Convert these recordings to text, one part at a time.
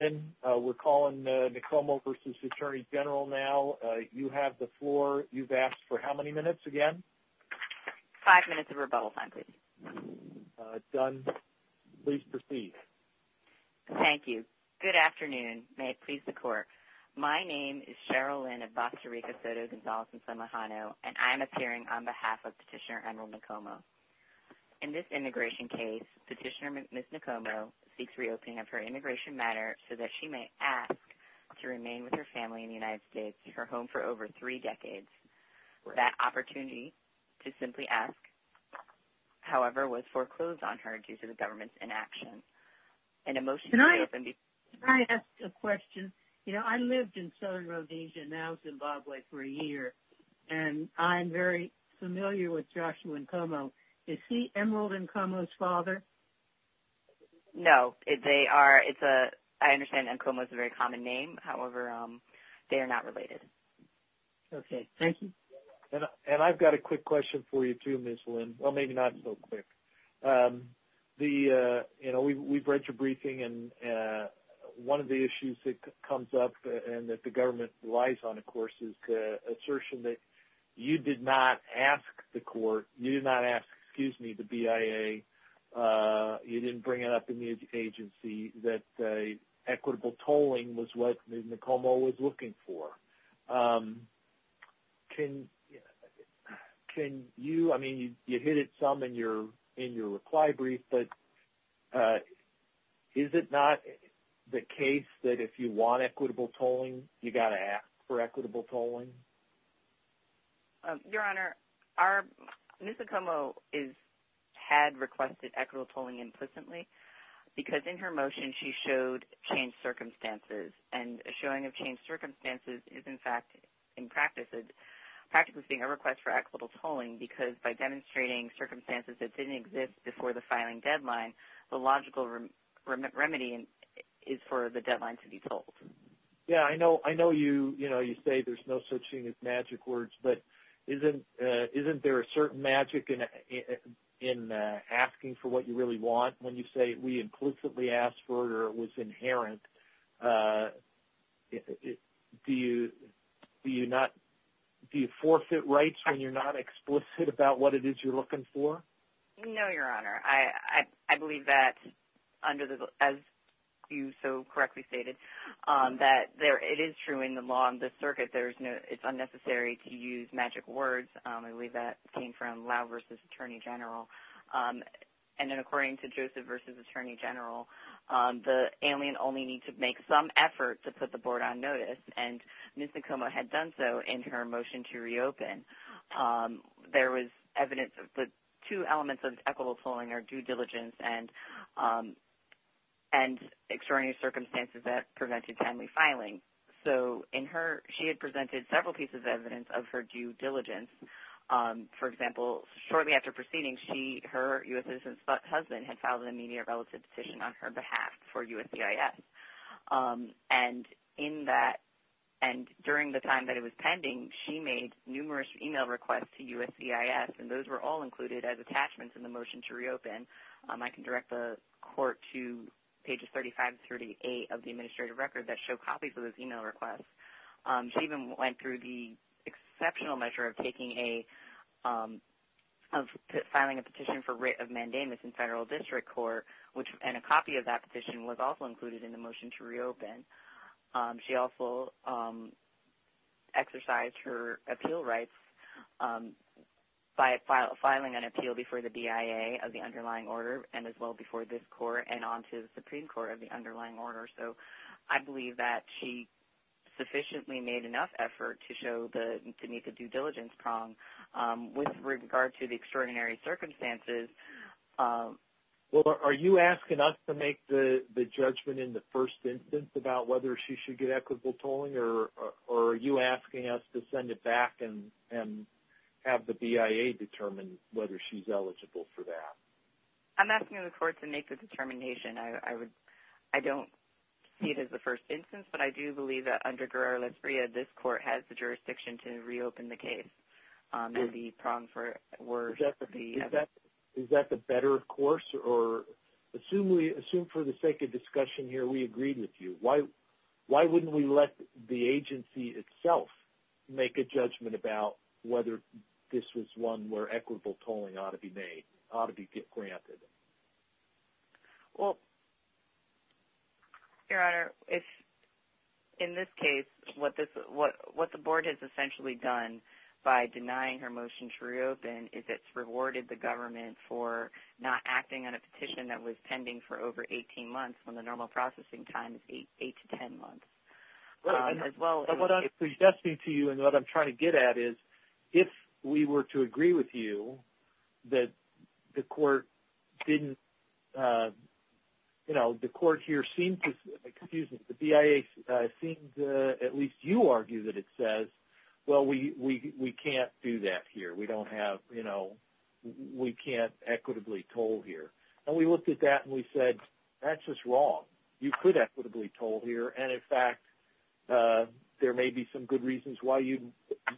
Cheryl Lynn, we're calling Nkomo v. Attorney General now. You have the floor. You've asked for how many minutes again? Five minutes of rebuttal time, please. Done. Please proceed. Thank you. Good afternoon. May it please the Court. My name is Cheryl Lynn of Costa Rica Soto Gonzales and San Lujano, and I am appearing on behalf of Petitioner Emerald Nkomo. In this immigration case, Petitioner Ms. Nkomo seeks reopening of her immigration matter so that she may ask to remain with her family in the United States, her home for over three decades. That opportunity to simply ask, however, was foreclosed on her due to the government's inaction. Can I ask a question? You know, I lived in Southern Rhodesia, now Zimbabwe, for a year, and I'm very familiar with Joshua Nkomo. Is he Emerald Nkomo's father? No. They are – it's a – I understand Nkomo is a very common name. However, they are not related. Okay. Thank you. And I've got a quick question for you too, Ms. Lynn. Well, maybe not so quick. The – you know, we've read your briefing, and one of the issues that comes up and that the government relies on, of course, is the assertion that you did not ask the court – you did not ask, excuse me, the BIA, you didn't bring it up in the agency, that equitable tolling was what Nkomo was looking for. Can you – I mean, you hit it some in your reply brief, but is it not the case that if you want equitable tolling, you've got to ask for equitable tolling? Your Honor, our – Ms. Nkomo is – had requested equitable tolling implicitly, because in her motion, she showed changed circumstances. And a showing of changed circumstances is, in fact, in practice, practically being a request for equitable tolling, because by demonstrating circumstances that didn't exist before the filing deadline, the logical remedy is for the deadline to be tolled. Yeah, I know you say there's no such thing as magic words, but isn't there a certain magic in asking for what you really want when you say we implicitly asked for it or it was inherent? Do you not – do you forfeit rights when you're not explicit about what it is you're looking for? No, Your Honor. I believe that under the – as you so correctly stated, that there – it is true in the law and the circuit, there's no – it's unnecessary to use magic words. I believe that came from Lau versus Attorney General. And then according to Joseph versus Attorney General, the alien only needs to make some effort to put the board on notice, and Ms. Nkomo had done so in her motion to reopen. There was evidence of the two elements of equitable tolling are due diligence and extraordinary circumstances that prevented timely filing. So in her – she had presented several pieces of evidence of her due diligence. For example, shortly after proceeding, she – her U.S. citizen husband had filed an immediate relative petition on her behalf for USCIS. And in that – and during the time that it was pending, she made numerous email requests to USCIS, and those were all included as attachments in the motion to reopen. I can direct the court to pages 35 to 38 of the administrative record that show copies of those email requests. She even went through the exceptional measure of taking a – of filing a petition for writ of mandamus in federal district court, which – and a copy of that petition was also included in the motion to reopen. She also exercised her appeal rights by filing an appeal before the BIA of the underlying order and as well before this court and onto the Supreme Court of the underlying order. So I believe that she sufficiently made enough effort to show the – to meet the due diligence prong with regard to the extraordinary circumstances. Well, are you asking us to make the judgment in the first instance about whether she should get equitable tolling, or are you asking us to send it back and have the BIA determine whether she's eligible for that? I'm asking the court to make the determination. I would – I don't see it as the first instance, but I do believe that under Guerrero-Lazuria, this court has the jurisdiction to reopen the case and the prong for it were the – Is that the better course or – assume we – assume for the sake of discussion here we agreed with you. Why wouldn't we let the agency itself make a judgment about whether this was one where equitable tolling ought to be made, ought to be granted? Well, Your Honor, if – in this case, what this – what the board has essentially done by denying her motion to reopen is it's rewarded the government for not acting on a petition that was pending for over 18 months when the normal processing time is 8 to 10 months. Well, and what I'm suggesting to you and what I'm trying to get at is if we were to agree with you that the court didn't – you know, the court here seemed to – excuse me, the BIA seemed to – at least you argue that it says, well, we can't do that here. We don't have – you know, we can't equitably toll here. And we looked at that and we said, that's just wrong. You could equitably toll here, and in fact, there may be some good reasons why you'd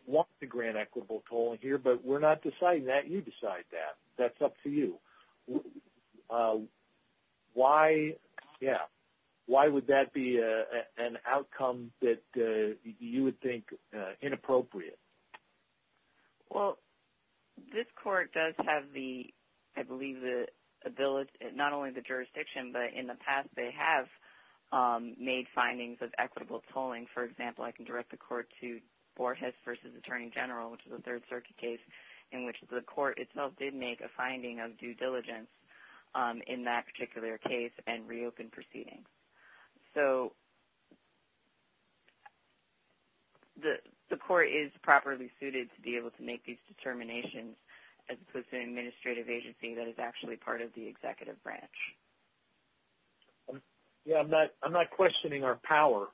want to grant equitable tolling here, but we're not deciding that. You decide that. That's up to you. Why – yeah. Why would that be an outcome that you would think inappropriate? in that particular case and reopen proceedings. So the court is properly suited to be able to make these determinations as opposed to an administrative agency that is actually part of the executive branch. Yeah, I'm not questioning our power.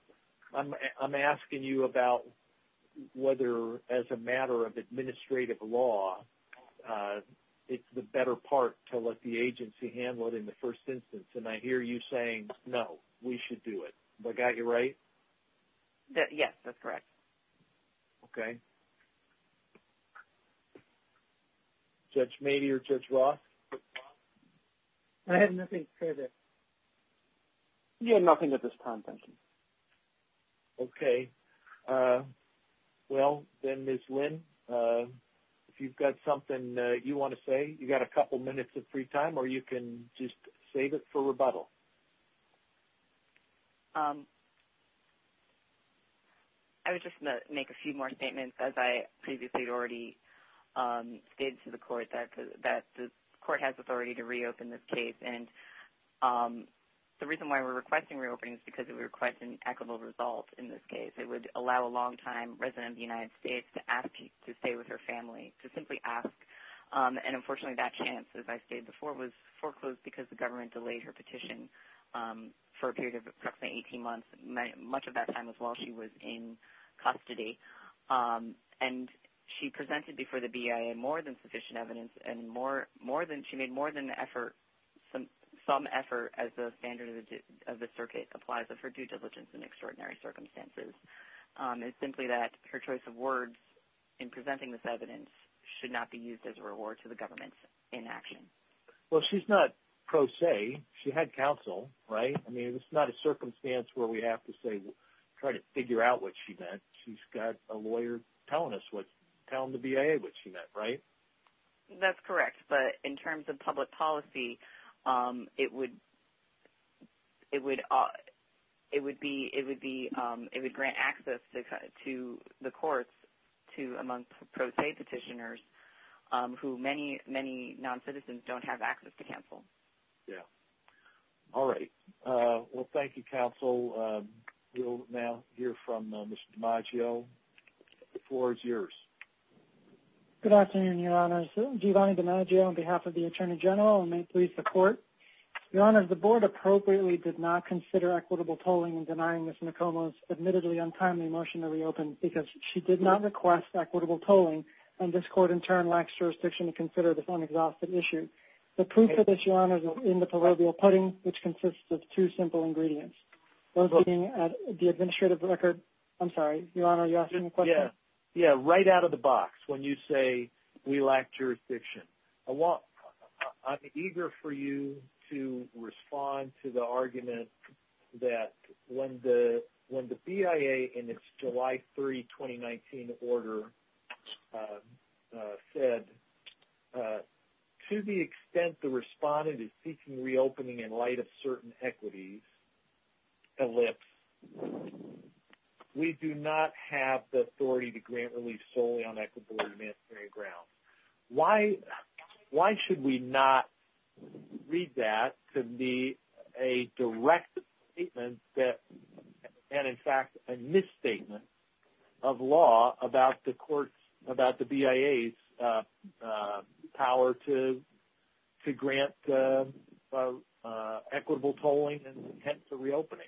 I'm asking you about whether, as a matter of administrative law, it's the better part to let the agency handle it in the first instance. And I hear you saying, no, we should do it. Have I got you right? Yes, that's correct. Okay. Judge Mady or Judge Roth? I have nothing further. You have nothing at this time, thank you. Okay. Well, then Ms. Lynn, if you've got something you want to say, you've got a couple minutes of free time, or you can just save it for rebuttal. I would just make a few more statements. As I previously already stated to the court, that the court has authority to reopen this case. And the reason why we're requesting reopening is because we're requesting equitable results in this case. It would allow a long-time resident of the United States to stay with her family, to simply ask. And unfortunately, that chance, as I stated before, was foreclosed because the government delayed her petition for a period of approximately 18 months. Much of that time was while she was in custody. And she presented before the BIA more than sufficient evidence, and she made more than some effort, as the standard of the circuit applies of her due diligence in extraordinary circumstances. It's simply that her choice of words in presenting this evidence should not be used as a reward to the government's inaction. Well, she's not pro se. She had counsel, right? I mean, it's not a circumstance where we have to say, try to figure out what she meant. She's got a lawyer telling the BIA what she meant, right? That's correct. But in terms of public policy, it would grant access to the courts among pro se petitioners, who many, many non-citizens don't have access to counsel. Yeah. All right. Well, thank you, counsel. We'll now hear from Ms. DiMaggio. The floor is yours. Good afternoon, Your Honors. Giovanni DiMaggio on behalf of the Attorney General, and may it please the Court. Your Honors, the Board appropriately did not consider equitable tolling in denying Ms. Nekomo's admittedly untimely motion to reopen because she did not request equitable tolling, and this Court in turn lacks jurisdiction to consider this unexhausted issue. The proof of this, Your Honors, is in the proverbial pudding, which consists of two simple ingredients. The administrative record? I'm sorry, Your Honor, are you asking a question? Yeah, right out of the box when you say we lack jurisdiction. I'm eager for you to respond to the argument that when the BIA in its July 3, 2019 order said, to the extent the respondent is seeking reopening in light of certain equities, ellipse, we do not have the authority to grant relief solely on equitable or administrative grounds. Why should we not read that to be a direct statement and in fact a misstatement of law about the BIA's power to grant equitable tolling and hence a reopening?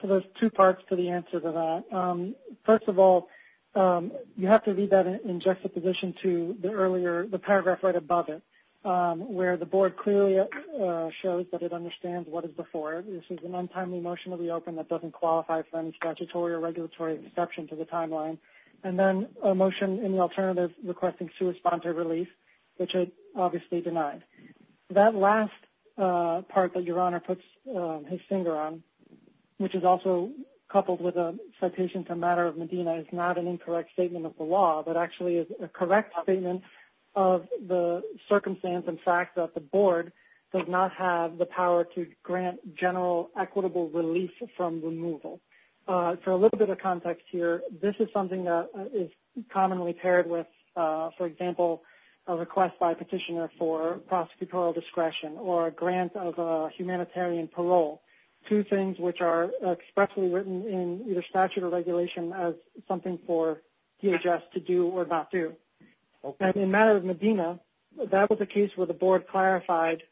So there's two parts to the answer to that. First of all, you have to read that in juxtaposition to the earlier, the paragraph right above it, where the Board clearly shows that it understands what is before it. This is an untimely motion to reopen that doesn't qualify for any statutory or regulatory exception to the timeline. And then a motion in the alternative requesting sui sponte relief, which it obviously denied. That last part that Your Honor puts his finger on, which is also coupled with a citation to a matter of Medina, is not an incorrect statement of the law, but actually is a correct statement of the circumstance and fact that the Board does not have the power to grant general equitable relief from removal. For a little bit of context here, this is something that is commonly paired with, for example, a request by a petitioner for prosecutorial discretion or a grant of humanitarian parole. Two things which are expressly written in either statute or regulation as something for DHS to do or not do. In a matter of Medina, that was a case where the Board clarified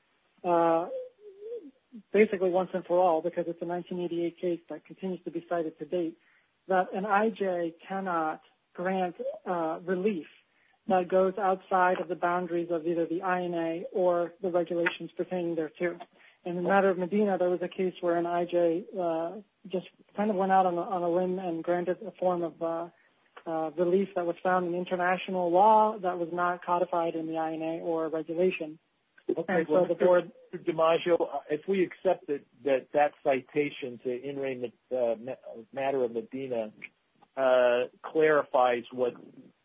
basically once and for all, because it's a 1988 case that continues to be cited to date, that an IJ cannot grant relief that goes outside of the boundaries of either the INA or the regulations pertaining thereto. In a matter of Medina, there was a case where an IJ just kind of went out on a limb and granted a form of relief that was found in international law that was not codified in the INA or regulation. Okay, so the Board, DiMaggio, if we accept that that citation to entering the matter of Medina clarifies what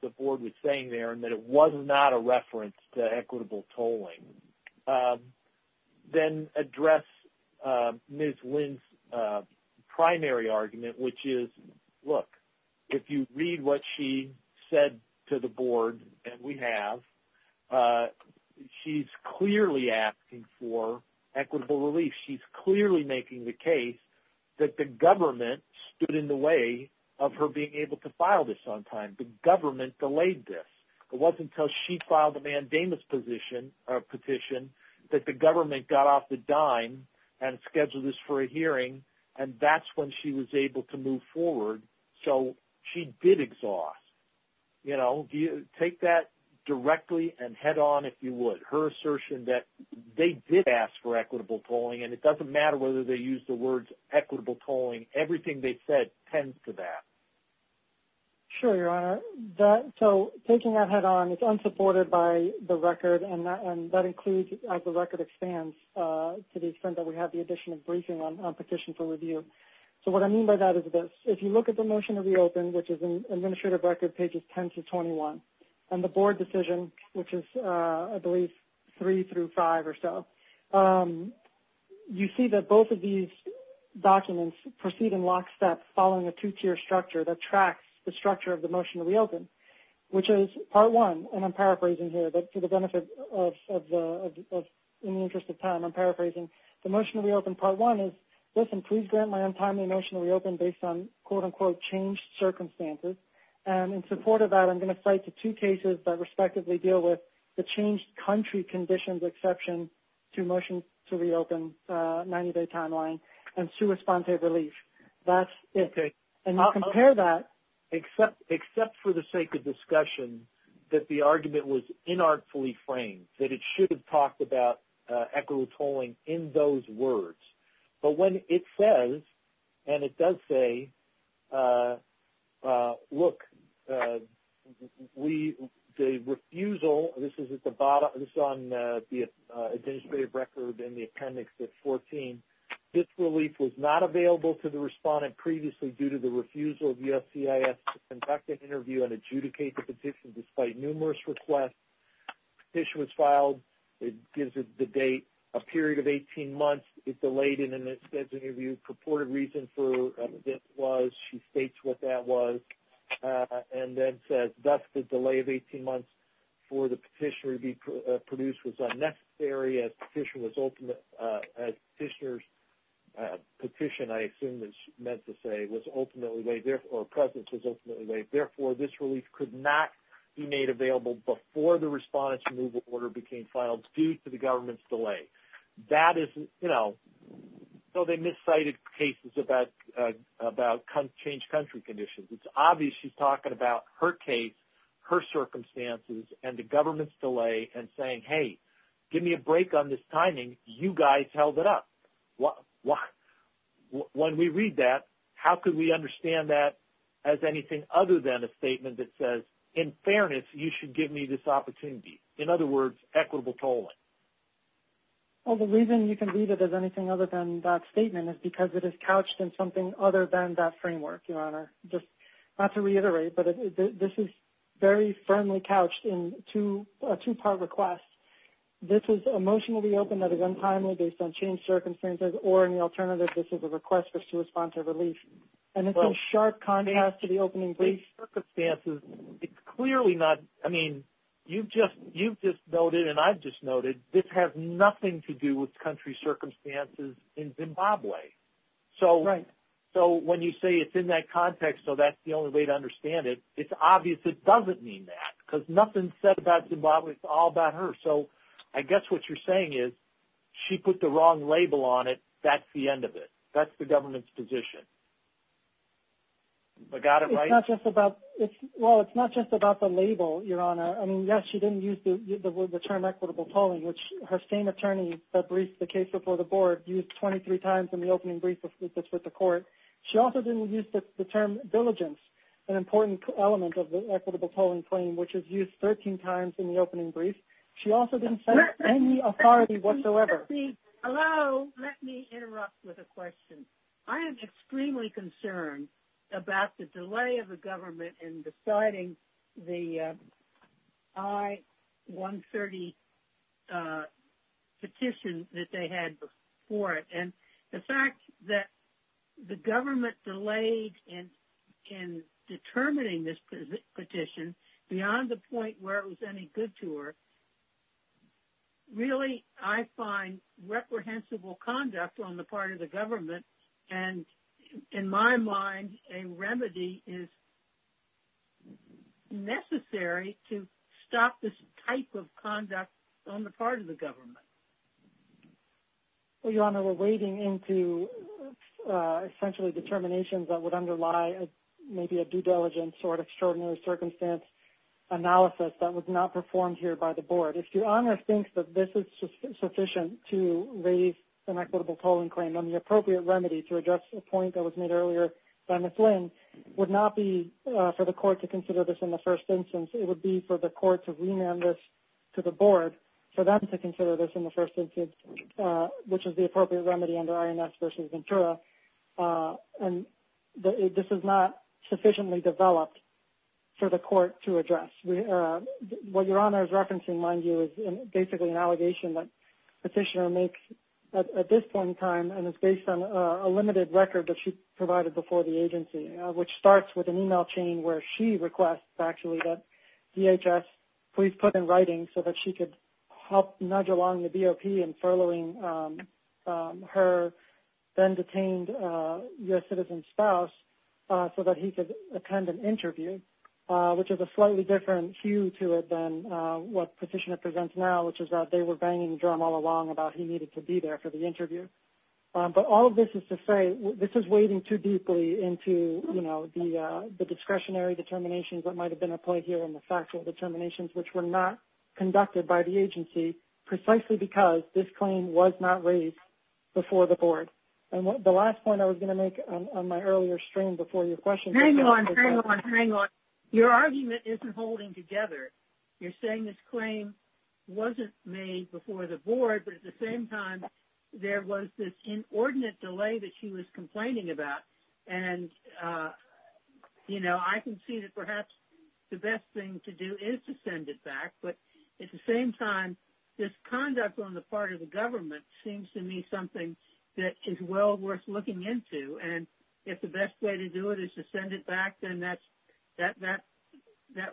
the Board was saying there and that it was not a reference to equitable tolling, then address Ms. Lynn's primary argument, which is, look, if you read what she said to the Board, and we have, she's clearly asking for equitable relief. She's clearly making the case that the government stood in the way of her being able to file this on time. The government delayed this. It wasn't until she filed a mandamus petition that the government got off the dime and scheduled this for a hearing, and that's when she was able to move forward, so she did exhaust. You know, take that directly and head on, if you would. Her assertion that they did ask for equitable tolling, and it doesn't matter whether they used the words equitable tolling. Everything they said tends to that. Sure, Your Honor. So taking that head on, it's unsupported by the record, and that includes, as the record expands, to the extent that we have the addition of briefing on petition for review. So what I mean by that is this. If you look at the motion to reopen, which is in Administrative Record pages 10 to 21, and the Board decision, which is, I believe, 3 through 5 or so, you see that both of these documents proceed in lockstep following a two-tier structure that tracks the structure of the motion to reopen, which is part one. And I'm paraphrasing here, but for the benefit of, in the interest of time, I'm paraphrasing. The motion to reopen part one is, listen, please grant my untimely motion to reopen based on, quote-unquote, changed circumstances. And in support of that, I'm going to cite the two cases that respectively deal with the changed country conditions exception to motion to reopen 90-day timeline and sua sponte relief. That's it. And compare that. Except for the sake of discussion, that the argument was inartfully framed, that it should have talked about equitable tolling in those words. But when it says, and it does say, look, the refusal, this is on the Administrative Record in the appendix at 14, this relief was not available to the respondent previously due to the refusal of USCIS to conduct an interview and adjudicate the petition despite numerous requests. The petition was filed. It gives the date, a period of 18 months. It's delayed, and then it says in the interview, purported reason for this was, she states what that was, and then says, thus the delay of 18 months for the petitioner to be produced was unnecessary as petitioner's petition, I assume is meant to say, was ultimately laid, or presence was ultimately laid. Therefore, this relief could not be made available before the respondent's removal order became filed due to the government's delay. That is, you know, so they miscited cases about changed country conditions. It's obvious she's talking about her case, her circumstances, and the government's delay and saying, hey, give me a break on this timing. You guys held it up. When we read that, how could we understand that as anything other than a statement that says, in fairness, you should give me this opportunity. In other words, equitable tolling. Well, the reason you can read it as anything other than that statement is because it is couched in something other than that framework, Your Honor. Just not to reiterate, but this is very firmly couched in a two-part request. This is emotionally open that is untimely based on changed circumstances, or in the alternative, this is a request to respond to relief. And it's in sharp contrast to the opening brief. It's clearly not, I mean, you've just noted and I've just noted, this has nothing to do with country circumstances in Zimbabwe. So when you say it's in that context, so that's the only way to understand it, it's obvious it doesn't mean that. Because nothing is said about Zimbabwe, it's all about her. So I guess what you're saying is she put the wrong label on it, that's the end of it. That's the government's position. But got it right? Well, it's not just about the label, Your Honor. I mean, yes, she didn't use the term equitable tolling, which her same attorney that briefed the case before the board used 23 times in the opening brief with the court. She also didn't use the term diligence, an important element of the equitable tolling claim, which is used 13 times in the opening brief. She also didn't cite any authority whatsoever. Hello? Let me interrupt with a question. I am extremely concerned about the delay of the government in deciding the I-130 petition that they had before it. And the fact that the government delayed in determining this petition beyond the point where it was any good to her, really I find reprehensible conduct on the part of the government. And in my mind, a remedy is necessary to stop this type of conduct on the part of the government. Well, Your Honor, we're wading into essentially determinations that would underlie maybe a due diligence or an extraordinary circumstance analysis that was not performed here by the board. If Your Honor thinks that this is sufficient to raise an equitable tolling claim, then the appropriate remedy to address the point that was made earlier by Ms. Lynn would not be for the court to consider this in the first instance. It would be for the court to remand this to the board for them to consider this in the first instance, which is the appropriate remedy under INS v. Ventura. And this is not sufficiently developed for the court to address. What Your Honor is referencing, mind you, is basically an allegation that Petitioner makes at this point in time and is based on a limited record that she provided before the agency, which starts with an email chain where she requests, actually, that DHS please put in writing so that she could help nudge along the BOP in furloughing her then-detained U.S. citizen spouse so that he could attend an interview, which has a slightly different hue to it than what Petitioner presents now, which is that they were banging the drum all along about he needed to be there for the interview. But all of this is to say this is wading too deeply into the discretionary determinations that might have been applied here in the factual determinations, which were not conducted by the agency precisely because this claim was not raised before the board. And the last point I was going to make on my earlier stream before your question was that- Hang on, hang on, hang on. Your argument isn't holding together. You're saying this claim wasn't made before the board, but at the same time there was this inordinate delay that she was complaining about. And, you know, I can see that perhaps the best thing to do is to send it back, but at the same time this conduct on the part of the government seems to me something that is well worth looking into. And if the best way to do it is to send it back, then that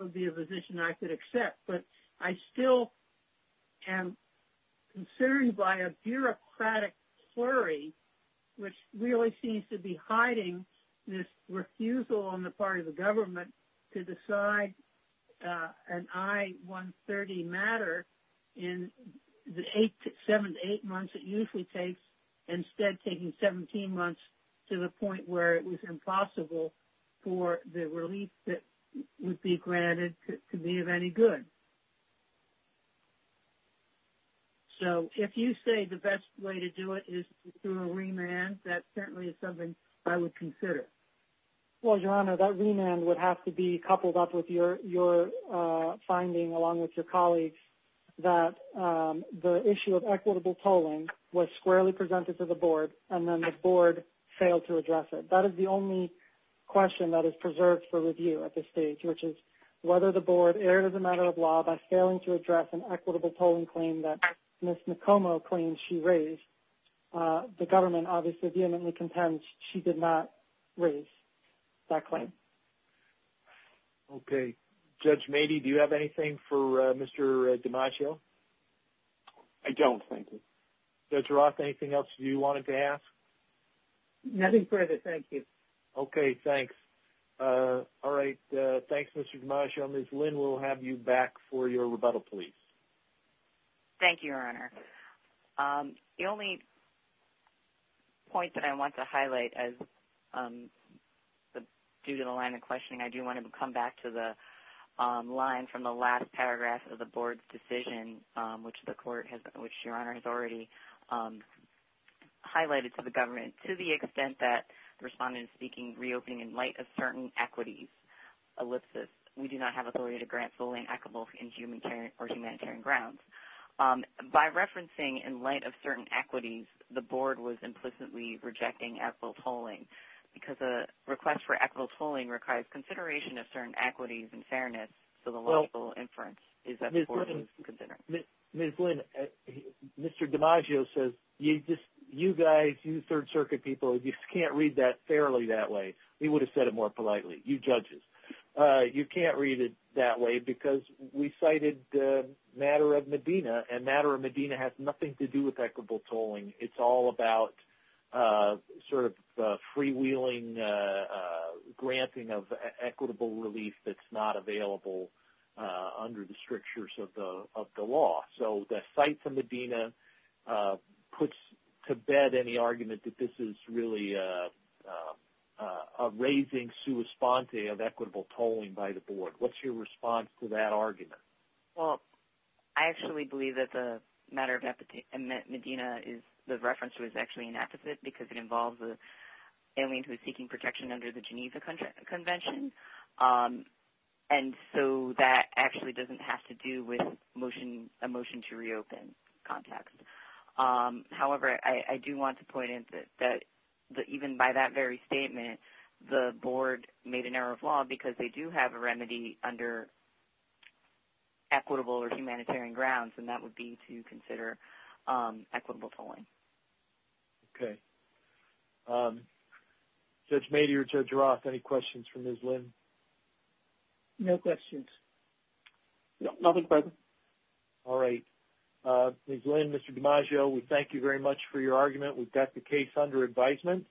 would be a position I could accept. But I still am concerned by a bureaucratic flurry which really seems to be hiding this refusal on the part of the government to decide an I-130 matter in the seven to eight months it usually takes, instead taking 17 months to the point where it was impossible for the relief that would be granted to be of any good. So if you say the best way to do it is through a remand, that certainly is something I would consider. Well, Your Honor, that remand would have to be coupled up with your finding along with your colleagues that the issue of equitable tolling was squarely presented to the board and then the board failed to address it. That is the only question that is preserved for review at this stage, which is whether the board erred as a matter of law by failing to address an equitable tolling claim that Ms. Nekomo claimed she raised. The government obviously vehemently contends she did not raise that claim. Okay, Judge Mady, do you have anything for Mr. DiMaggio? I don't, thank you. Judge Roth, anything else you wanted to ask? Nothing further, thank you. Okay, thanks. All right, thanks, Mr. DiMaggio. Ms. Lynn, we'll have you back for your rebuttal, please. Thank you, Your Honor. The only point that I want to highlight, due to the line of questioning, I do want to come back to the line from the last paragraph of the board's decision, which Your Honor has already highlighted to the government, to the extent that the respondent is speaking reopening in light of certain equities, ellipses. We do not have authority to grant tolling equitable or humanitarian grounds. By referencing in light of certain equities, the board was implicitly rejecting equitable tolling because a request for equitable tolling requires consideration of certain equities and fairness, so the logical inference is that the board was considering. Ms. Lynn, Mr. DiMaggio says you guys, you Third Circuit people, you just can't read that fairly that way. He would have said it more politely, you judges. You can't read it that way because we cited the matter of Medina, and the matter of Medina has nothing to do with equitable tolling. It's all about sort of freewheeling granting of equitable relief that's not available under the strictures of the law. So the site for Medina puts to bed any argument that this is really a raising sua sponte of equitable tolling by the board. What's your response to that argument? Well, I actually believe that the matter of Medina is the reference was actually an apposite because it involves an alien who is seeking protection under the Geniza Convention, and so that actually doesn't have to do with a motion to reopen context. However, I do want to point out that even by that very statement, the board made an error of law because they do have a remedy under equitable or humanitarian grounds, and that would be to consider equitable tolling. Okay. Judge Mady or Judge Roth, any questions for Ms. Lynn? No questions. No, nothing further. All right. Ms. Lynn, Mr. DiMaggio, we thank you very much for your argument. We've got the case under advisement.